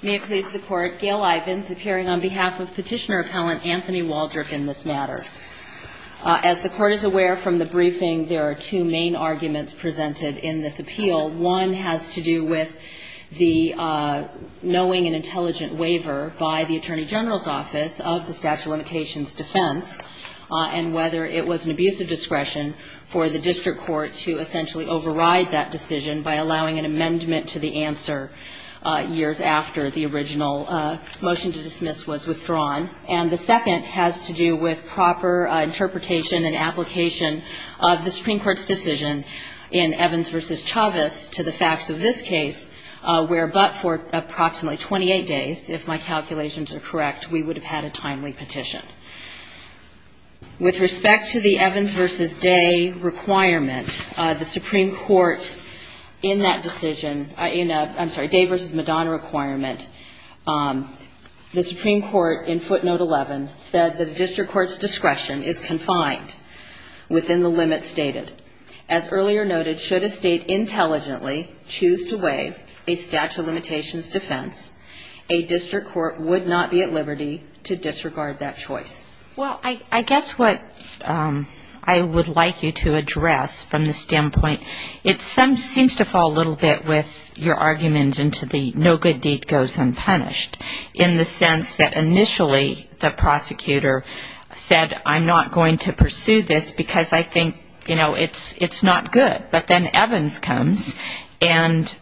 May it please the Court, Gail Ivins appearing on behalf of Petitioner Appellant Anthony Waldrip in this matter. As the Court is aware from the briefing, there are two main arguments presented in this appeal. One has to do with the knowing and intelligent waiver by the Attorney General's Office of the statute of limitations defense and whether it was an abuse of discretion for the district court to essentially override that decision by allowing an amendment to the answer years after the original motion to dismiss was withdrawn. And the second has to do with proper interpretation and application of the Supreme Court's decision in Evans v. Chavez to the facts of this case where but for approximately 28 days, if my calculations are correct, we would have had a timely petition. With respect to the Evans v. Day requirement, the Supreme Court in that decision in a, I'm sorry, Day v. Madonna requirement, the Supreme Court in footnote 11 said that the district court's discretion is confined within the limits stated. As earlier noted, should a state intelligently choose to waive a statute of limitations defense, a district court would not be at liberty to disregard that choice. Well, I guess what I would like you to address from this standpoint, it seems to fall a little bit with your argument into the no good deed goes unpunished in the sense that initially the prosecutor said I'm not going to pursue this because I think, you know, it's not good. But then Evans comes and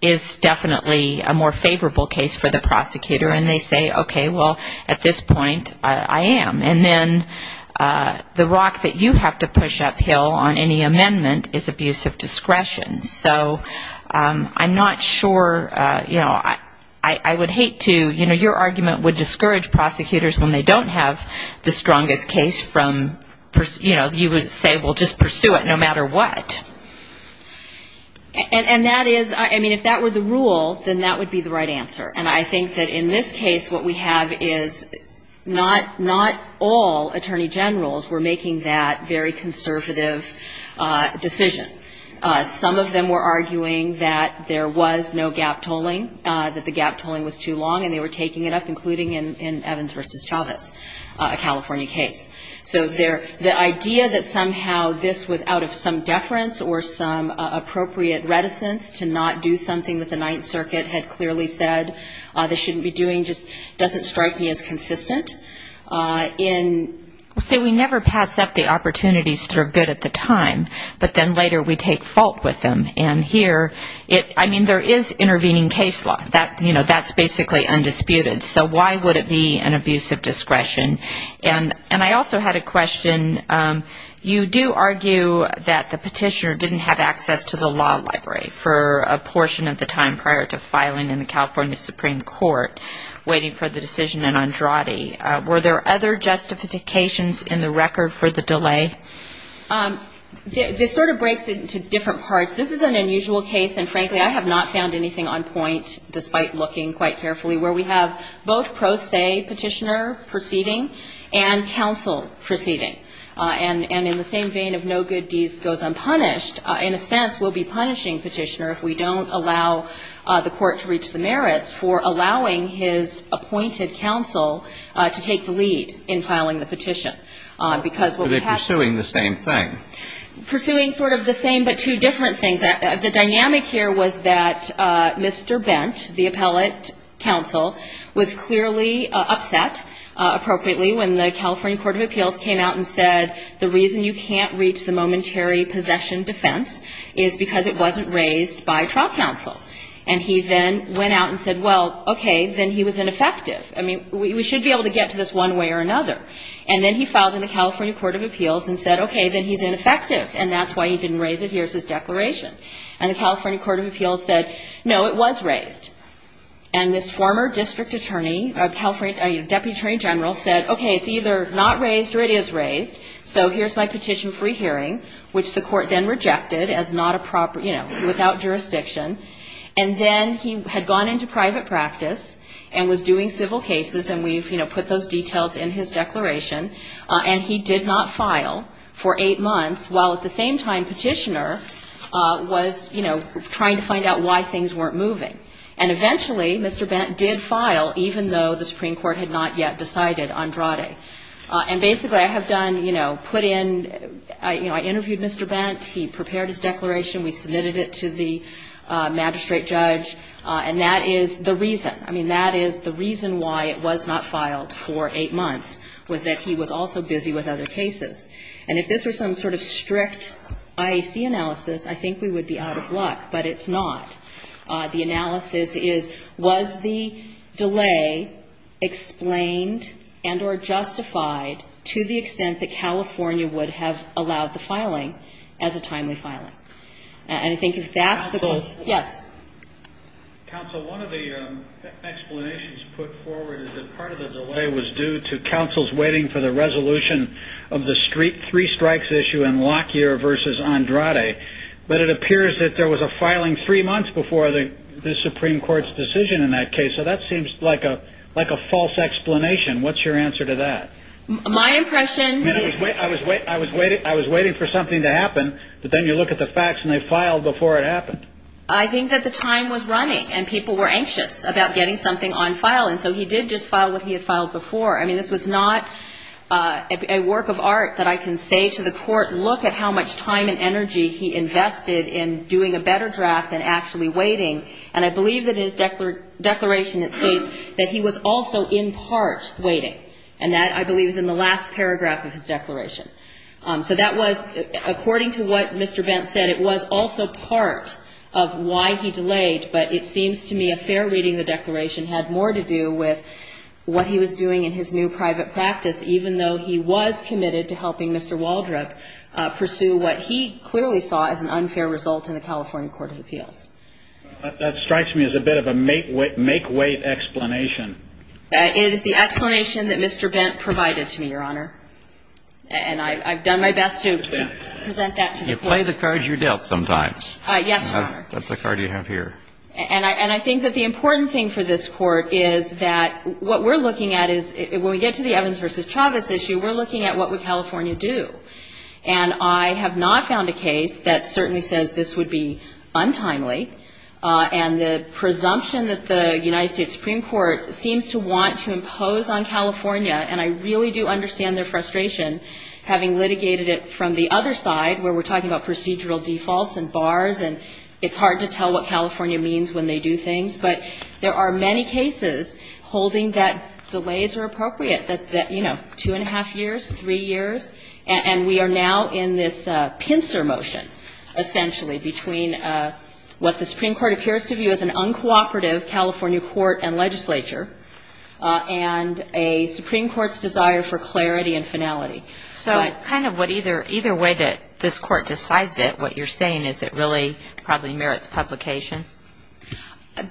is definitely a more favorable case for the prosecutor and they say, okay, well, at this point, I am. And then the rock that you have to push uphill on any amendment is abuse of discretion. So I'm not sure, you know, I would hate to, you know, your argument would discourage prosecutors when they don't have the strongest case from, you know, you would say, well, just pursue it no matter what. And that is, I mean, if that were the rule, then that would be the right answer. And I think that in this case, what we have is not all attorney generals were making that very conservative decision. Some of them were arguing that there was no gap tolling, that the gap tolling was too long and they were taking it up, including in Evans v. Chavez, a California case. So the idea that somehow this was out of some deference or some appropriate reticence to not do something that the Ninth Circuit had clearly said they shouldn't be doing just doesn't strike me as consistent. And so we never pass up the opportunities that are good at the time, but then later we take fault with them. And here, I mean, there is intervening case law, you know, that's basically undisputed. So why would it be an abuse of discretion? And I also had a question. You do argue that the petitioner didn't have access to the law library for a portion of the time prior to filing in the California Supreme Court, waiting for the decision in Were there other justifications in the record for the delay? This sort of breaks it into different parts. This is an unusual case, and frankly, I have not found anything on point, despite looking quite carefully, where we have both pro se petitioner proceeding and counsel proceeding. And in the same vein of no good deed goes unpunished, in a sense, we'll be punishing petitioner if we don't allow the court to reach the merits for allowing his appointed counsel to take the lead in filing the petition. Are they pursuing the same thing? Pursuing sort of the same but two different things. The dynamic here was that Mr. Bent, the appellate counsel, was clearly upset, appropriately, when the California Court of Appeals came out and said, the reason you can't reach the momentary possession defense is because it wasn't raised by trial counsel. And he then went out and said, well, okay, then he was ineffective. I mean, we should be able to get to this one way or another. And then he filed in the California Court of Appeals and said, okay, then he's ineffective, and that's why he didn't raise it. Here's his declaration. And the California Court of Appeals said, no, it was raised. And this former district attorney, deputy attorney general said, okay, it's either not raised or it is raised, so here's my petition free hearing, which the court then rejected as not a proper, you know, without jurisdiction. And then he had gone into private practice and was doing civil cases, and we've, you know, put those details in his declaration, and he did not file for eight months while, at the same time, Petitioner was, you know, trying to find out why things weren't moving. And eventually, Mr. Bent did file, even though the Supreme Court had not yet decided Andrade. And basically, I have done, you know, put in, you know, I interviewed Mr. Bent. He prepared his declaration. We submitted it to the magistrate judge, and that is the reason. I mean, that is the reason why it was not filed for eight months, was that he was also busy with other cases. And if this were some sort of strict IAC analysis, I think we would be out of luck, but it's not. The analysis is, was the delay explained and or justified to the extent that California would have allowed the filing as a timely filing? And I think if that's the goal. Yes. Counsel, one of the explanations put forward is that part of the delay was due to counsel's waiting for the resolution of the street three strikes issue in Lockyer versus Andrade. But it appears that there was a filing three months before the Supreme Court's decision in that case. So that seems like a like a false explanation. What's your answer to that? My impression? I was wait, I was waiting. I was waiting for something to happen. But then you look at the facts and they filed before it happened. I think that the time was running and people were anxious about getting something on file. And so he did just file what he had filed before. I mean, this was not a work of art that I can say to the court, look at how much time and energy he invested in doing a better draft and actually waiting. And I believe that his declaration, it states that he was also in part waiting. And that, I believe, is in the last paragraph of his declaration. So that was, according to what Mr. Bent said, it was also part of why he delayed. But it seems to me a fair reading of the declaration had more to do with what he was doing in his new private practice, even though he was committed to helping Mr. Waldrop pursue what he clearly saw as an unfair result in the California Court of Appeals. That strikes me as a bit of a make wait explanation. It is the explanation that Mr. Bent provided to me, Your Honor. And I've done my best to present that to the court. You play the cards you're dealt sometimes. Yes, Your Honor. That's a card you have here. And I think that the important thing for this court is that what we're looking at is, when we get to the Evans v. Chavez issue, we're looking at what would California do. And I have not found a case that certainly says this would be untimely. And the presumption that the United States Supreme Court seems to want to impose on California, and I really do understand their frustration, having litigated it from the other side where we're talking about procedural defaults and bars, and it's hard to tell what California means when they do things. But there are many cases holding that delays are appropriate, that, you know, two and a half years, three years, and we are now in this pincer motion, essentially, between what the Supreme Court appears to view as an uncooperative California court and legislature, and a Supreme Court's desire for clarity and finality. So kind of what either way that this court decides it, what you're saying, is it really probably merits publication?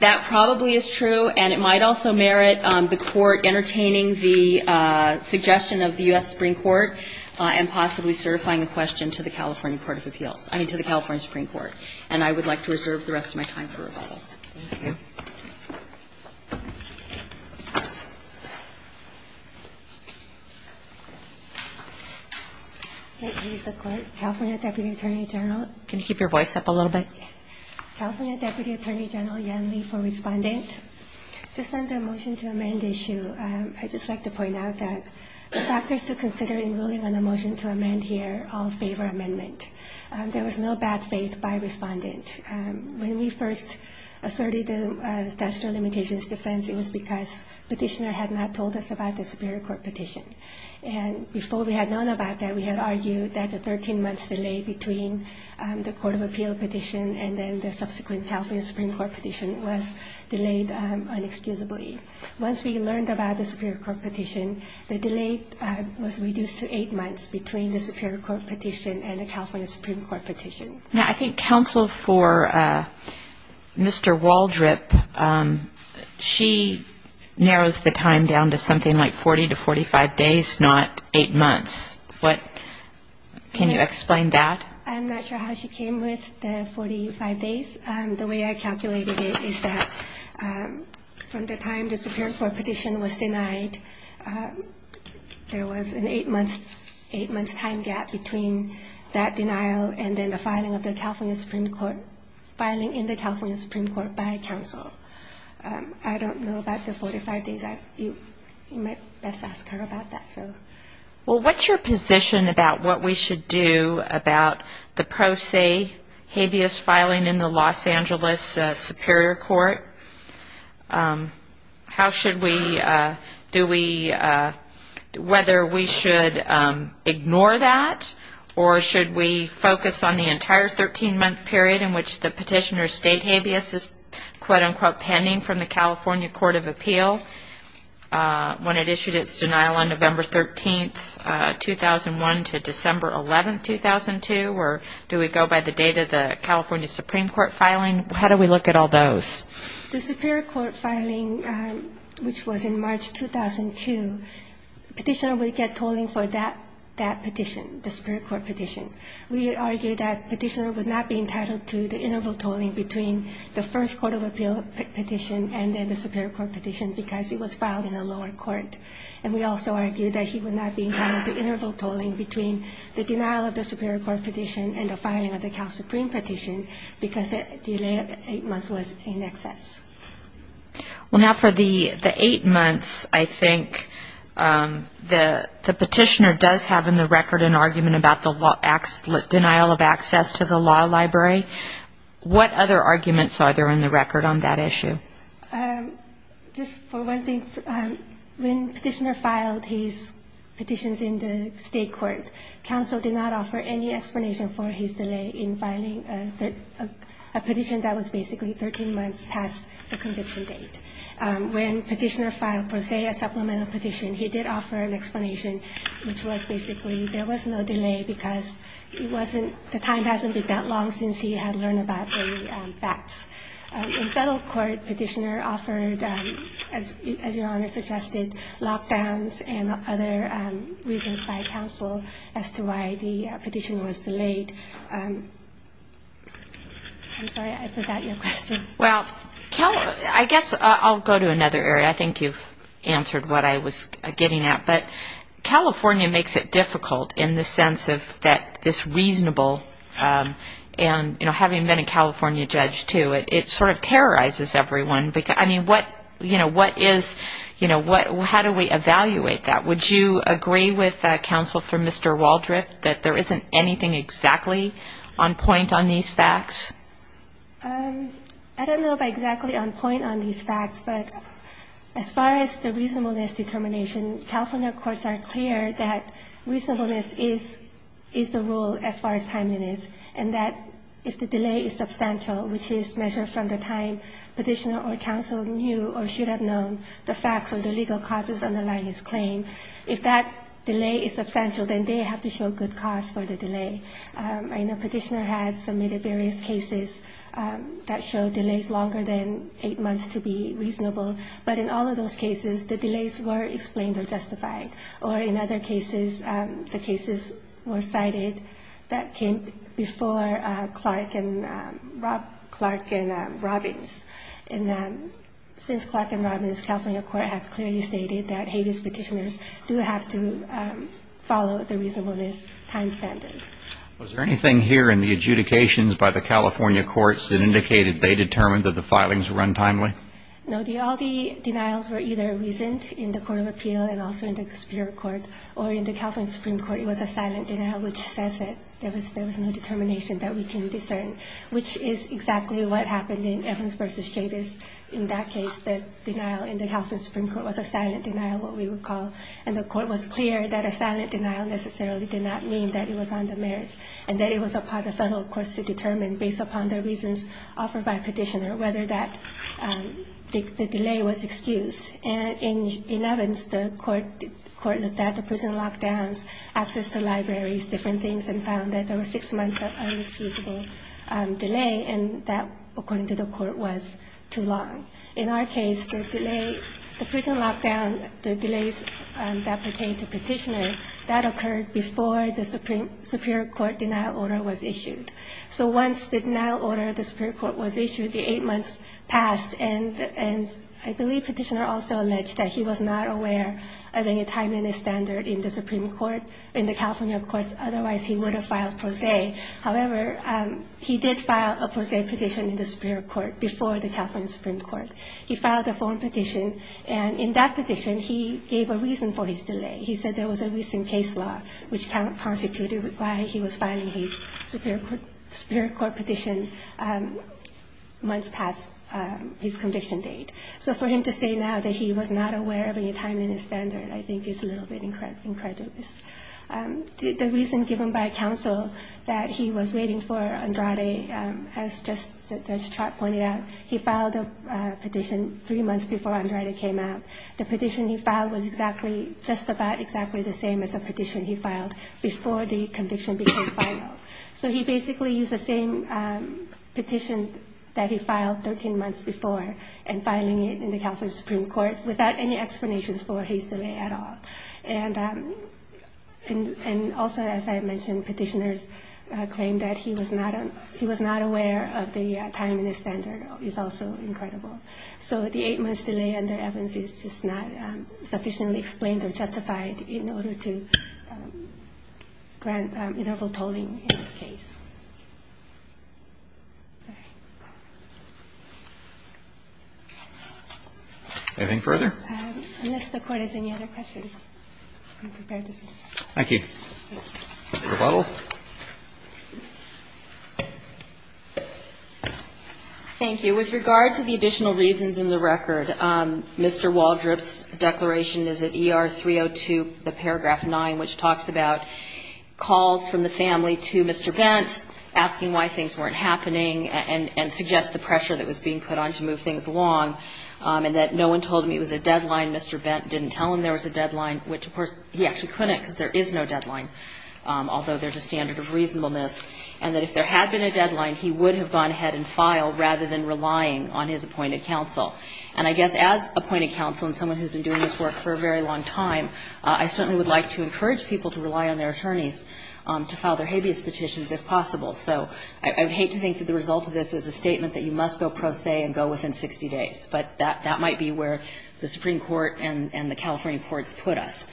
That probably is true, and it might also merit the court entertaining the suggestion of the U.S. Supreme Court and possibly certifying a question to the California Supreme Court of Appeals, I mean, to the California Supreme Court. And I would like to reserve the rest of my time for rebuttal. Thank you. Please, the court. California Deputy Attorney General. Can you keep your voice up a little bit? California Deputy Attorney General Yan Li for Respondent. Just on the motion to amend issue, I'd just like to point out that the factors to consider in ruling on the motion to amend here all favor amendment. There was no bad faith by Respondent. When we first asserted the statutory limitations defense, it was because petitioner had not told us about the Superior Court petition. And before we had known about that, we had argued that the 13 months delay between the Court of Appeal petition and then the subsequent California Supreme Court petition was delayed inexcusably. Once we learned about the Superior Court petition, the delay was reduced to the Supreme Court petition. Now, I think counsel for Mr. Waldrip, she narrows the time down to something like 40 to 45 days, not eight months. What, can you explain that? I'm not sure how she came with the 45 days. The way I calculated it is that from the time the Supreme Court petition was denied, and then the filing of the California Supreme Court, filing in the California Supreme Court by counsel, I don't know about the 45 days. You might best ask her about that, so. Well, what's your position about what we should do about the pro se habeas filing in the Los Angeles Superior Court? How should we, do we, whether we should ignore that? Or should we focus on the entire 13-month period in which the petitioner's state habeas is, quote-unquote, pending from the California Court of Appeal when it issued its denial on November 13, 2001, to December 11, 2002, or do we go by the date of the California Supreme Court filing? How do we look at all those? The Superior Court filing, which was in March 2002, petitioner would get tolling for that petition, the Superior Court petition. We argued that petitioner would not be entitled to the interval tolling between the first Court of Appeal petition and then the Superior Court petition because it was filed in a lower court. And we also argued that he would not be entitled to interval tolling between the denial of the Superior Court petition and the filing of the California Supreme Court petition because the delay of eight months was in excess. Well, now for the eight months, I think the petitioner does have in the record an argument about the denial of access to the law library. What other arguments are there in the record on that issue? Just for one thing, when petitioner filed his petitions in the state court, counsel did not offer any explanation for his delay in filing a petition that was basically 13 months past the conviction date. When petitioner filed, per se, a supplemental petition, he did offer an explanation, which was basically there was no delay because it wasn't, the time hasn't been that long since he had learned about the facts. In federal court, petitioner offered, as your Honor suggested, lockdowns and other reasons by counsel as to why the petition was delayed. I'm sorry, I forgot your question. Well, I guess I'll go to another area. I think you've answered what I was getting at. But California makes it difficult in the sense of that this reasonable, and having been a California judge too, it sort of terrorizes everyone. I mean, how do we evaluate that? Would you agree with counsel for being exactly on point on these facts? I don't know if I'm exactly on point on these facts, but as far as the reasonableness determination, California courts are clear that reasonableness is the rule as far as timeliness, and that if the delay is substantial, which is measured from the time petitioner or counsel knew or should have known the facts or the legal causes underlying his claim, if that delay is substantial, then they have to show good cause for the delay. I know petitioner has submitted various cases that show delays longer than eight months to be reasonable. But in all of those cases, the delays were explained or justified. Or in other cases, the cases were cited that came before Clark and Robbins. And since Clark and Robbins, California court has clearly stated that Was there anything here in the adjudications by the California courts that indicated they determined that the filings were untimely? No. All the denials were either reasoned in the Court of Appeal and also in the Superior Court, or in the California Supreme Court, it was a silent denial, which says that there was no determination that we can discern, which is exactly what happened in Evans v. Chavis. In that case, the denial in the California Supreme Court was a silent denial, what we would call, and the court was clear that a silent denial necessarily did not mean that it was on the merits, and that it was a part of the final course to determine, based upon the reasons offered by petitioner, whether that the delay was excused. And in Evans, the court looked at the prison lockdowns, access to libraries, different things, and found that there were six months of inexcusable delay, and that, according to the court, was too long. In our case, the prison lockdown, the delays that pertained to petitioner, that occurred before the Supreme Court denial order was issued. So once the denial order of the Supreme Court was issued, the eight months passed, and I believe petitioner also alleged that he was not aware of any time in the standard in the Supreme Court, in the California courts, otherwise he would have filed pro se. However, he did file a pro se petition in the Superior Court before the California Supreme Court. He filed a form petition, and in that petition, he gave a reason for his delay. He said there was a recent case law, which constituted why he was filing his Superior Court petition months past his conviction date. So for him to say now that he was not aware of any time in his standard, I think is a little bit incredulous. The reason given by counsel that he was waiting for Andrade, as just Judge Trott pointed out, he filed a petition three months before Andrade came out. The petition he filed was exactly, just about exactly the same as a petition he filed before the conviction became final. So he basically used the same petition that he filed 13 months before, and filing it in the California Supreme Court without any explanations for his delay at all. And also, as I mentioned, petitioners claimed that he was not aware of the time in his standard, is also incredible. So the 8-month delay under Evans is just not sufficiently explained or justified in order to grant interval tolling in this case. Sorry. Anything further? Unless the Court has any other questions, I'm prepared to see. Thank you. Rebuttal. Thank you. With regard to the additional reasons in the record, Mr. Waldrop's declaration is at ER 302, the paragraph 9, which talks about calls from the family to Mr. Bent, asking why things weren't happening, and suggests the pressure that was being put on to move things along, and that no one told him it was a deadline, Mr. Bent didn't tell him there was a deadline, which, of course, he actually couldn't deny, because there is no deadline, although there's a standard of reasonableness, and that if there had been a deadline, he would have gone ahead and filed rather than relying on his appointed counsel. And I guess as appointed counsel and someone who's been doing this work for a very long time, I certainly would like to encourage people to rely on their attorneys to file their habeas petitions if possible. So I would hate to think that the result of this is a statement that you must go pro se and go within 60 days. But that might be where the Supreme Court and the California courts put us.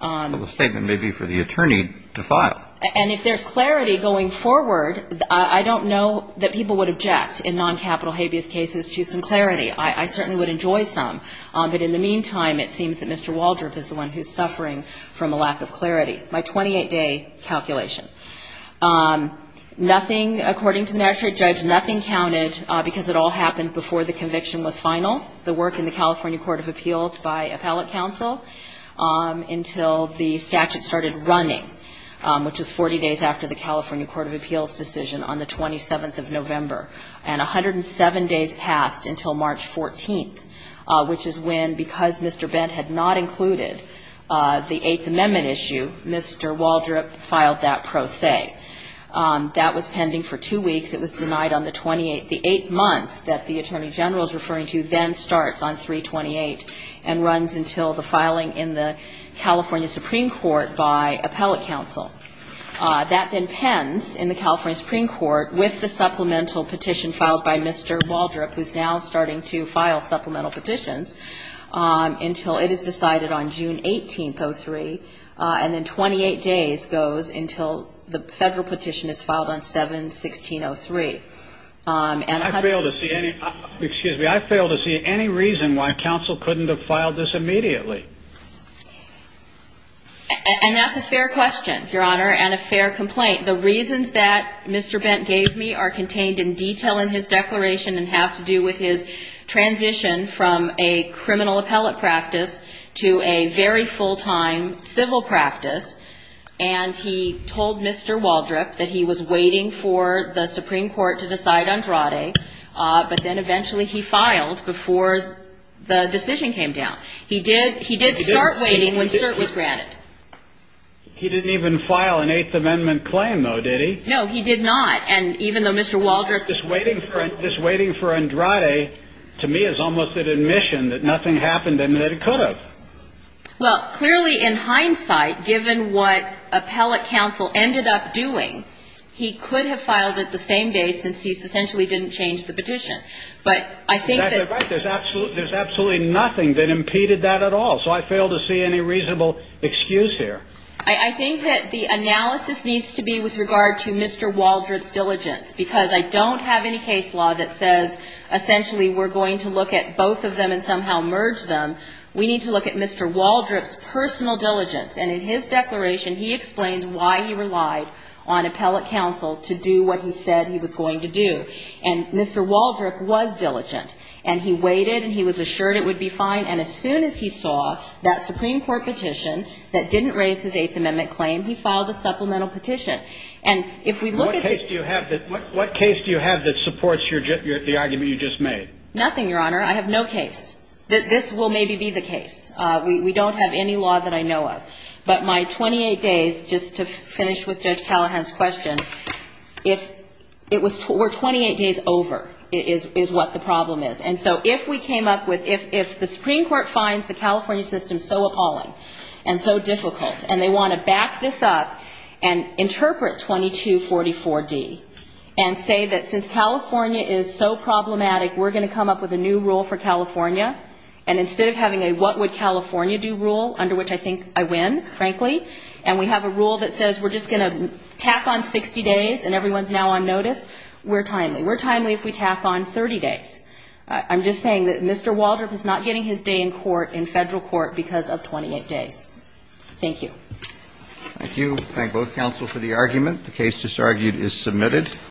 But the statement may be for the attorney to file. And if there's clarity going forward, I don't know that people would object in non-capital habeas cases to some clarity. I certainly would enjoy some. But in the meantime, it seems that Mr. Waldrop is the one who's suffering from a lack of clarity. My 28-day calculation. Nothing, according to the magistrate judge, nothing counted because it all happened before the conviction was final. The work in the California Court of Appeals by appellate counsel until the statute started running, which is 40 days after the California Court of Appeals decision on the 27th of November. And 107 days passed until March 14th, which is when, because Mr. Bent had not included the Eighth Amendment issue, Mr. Waldrop filed that pro se. That was pending for two weeks. It was denied on the 28th. The eight months that the attorney general is referring to then starts on 328 and runs until the filing in the California Supreme Court by appellate counsel. That then pens in the California Supreme Court with the supplemental petition filed by Mr. Waldrop, who's now starting to file supplemental petitions, until it is decided on June 18th, 03. And then 28 days goes until the federal petition is filed on 7-16-03. And I fail to see any reason why counsel couldn't have filed this immediately. And that's a fair question, Your Honor, and a fair complaint. The reasons that Mr. Bent gave me are contained in detail in his declaration and have to do with his transition from a criminal appellate practice to a very full-time civil practice. And he told Mr. Waldrop that he was waiting for the Supreme Court to decide on Andrade, but then eventually he filed before the decision came down. He did start waiting when cert was granted. He didn't even file an Eighth Amendment claim, though, did he? No, he did not. And even though Mr. Waldrop... Just waiting for Andrade, to me, is almost an admission that nothing happened and that it could have. Well, clearly, in hindsight, given what appellate counsel ended up doing, he could have filed it the same day, since he essentially didn't change the petition. But I think that... That's right. There's absolutely nothing that impeded that at all. So I fail to see any reasonable excuse here. I think that the analysis needs to be with regard to Mr. Waldrop's diligence, because I don't have any case law that says, essentially, we're going to look at both of them and somehow merge them. We need to look at Mr. Waldrop's personal diligence. And in his declaration, he explained why he relied on appellate counsel to do what he said he was going to do. And Mr. Waldrop was diligent. And he waited, and he was assured it would be fine. And as soon as he saw that Supreme Court petition that didn't raise his Eighth Amendment claim, he filed a supplemental petition. And if we look at... What case do you have that supports the argument you just made? Nothing, Your Honor. I have no case. This will maybe be the case. We don't have any law that I know of. But my 28 days, just to finish with Judge Callahan's question, if it was... We're 28 days over is what the problem is. And so if we came up with... If the Supreme Court finds the California system so appalling and so difficult, and they want to back this up and interpret 2244D and say that since California is so problematic, we're going to come up with a new rule for California, and instead of having a what would California do rule, under which I think I win, frankly, and we have a rule that says we're just going to tap on 60 days and everyone's now on notice, we're timely. We're timely if we tap on 30 days. I'm just saying that Mr. Waldrop is not getting his day in court, in federal court, because of 28 days. Thank you. Thank you. Thank both counsel for the argument. The case just argued is submitted.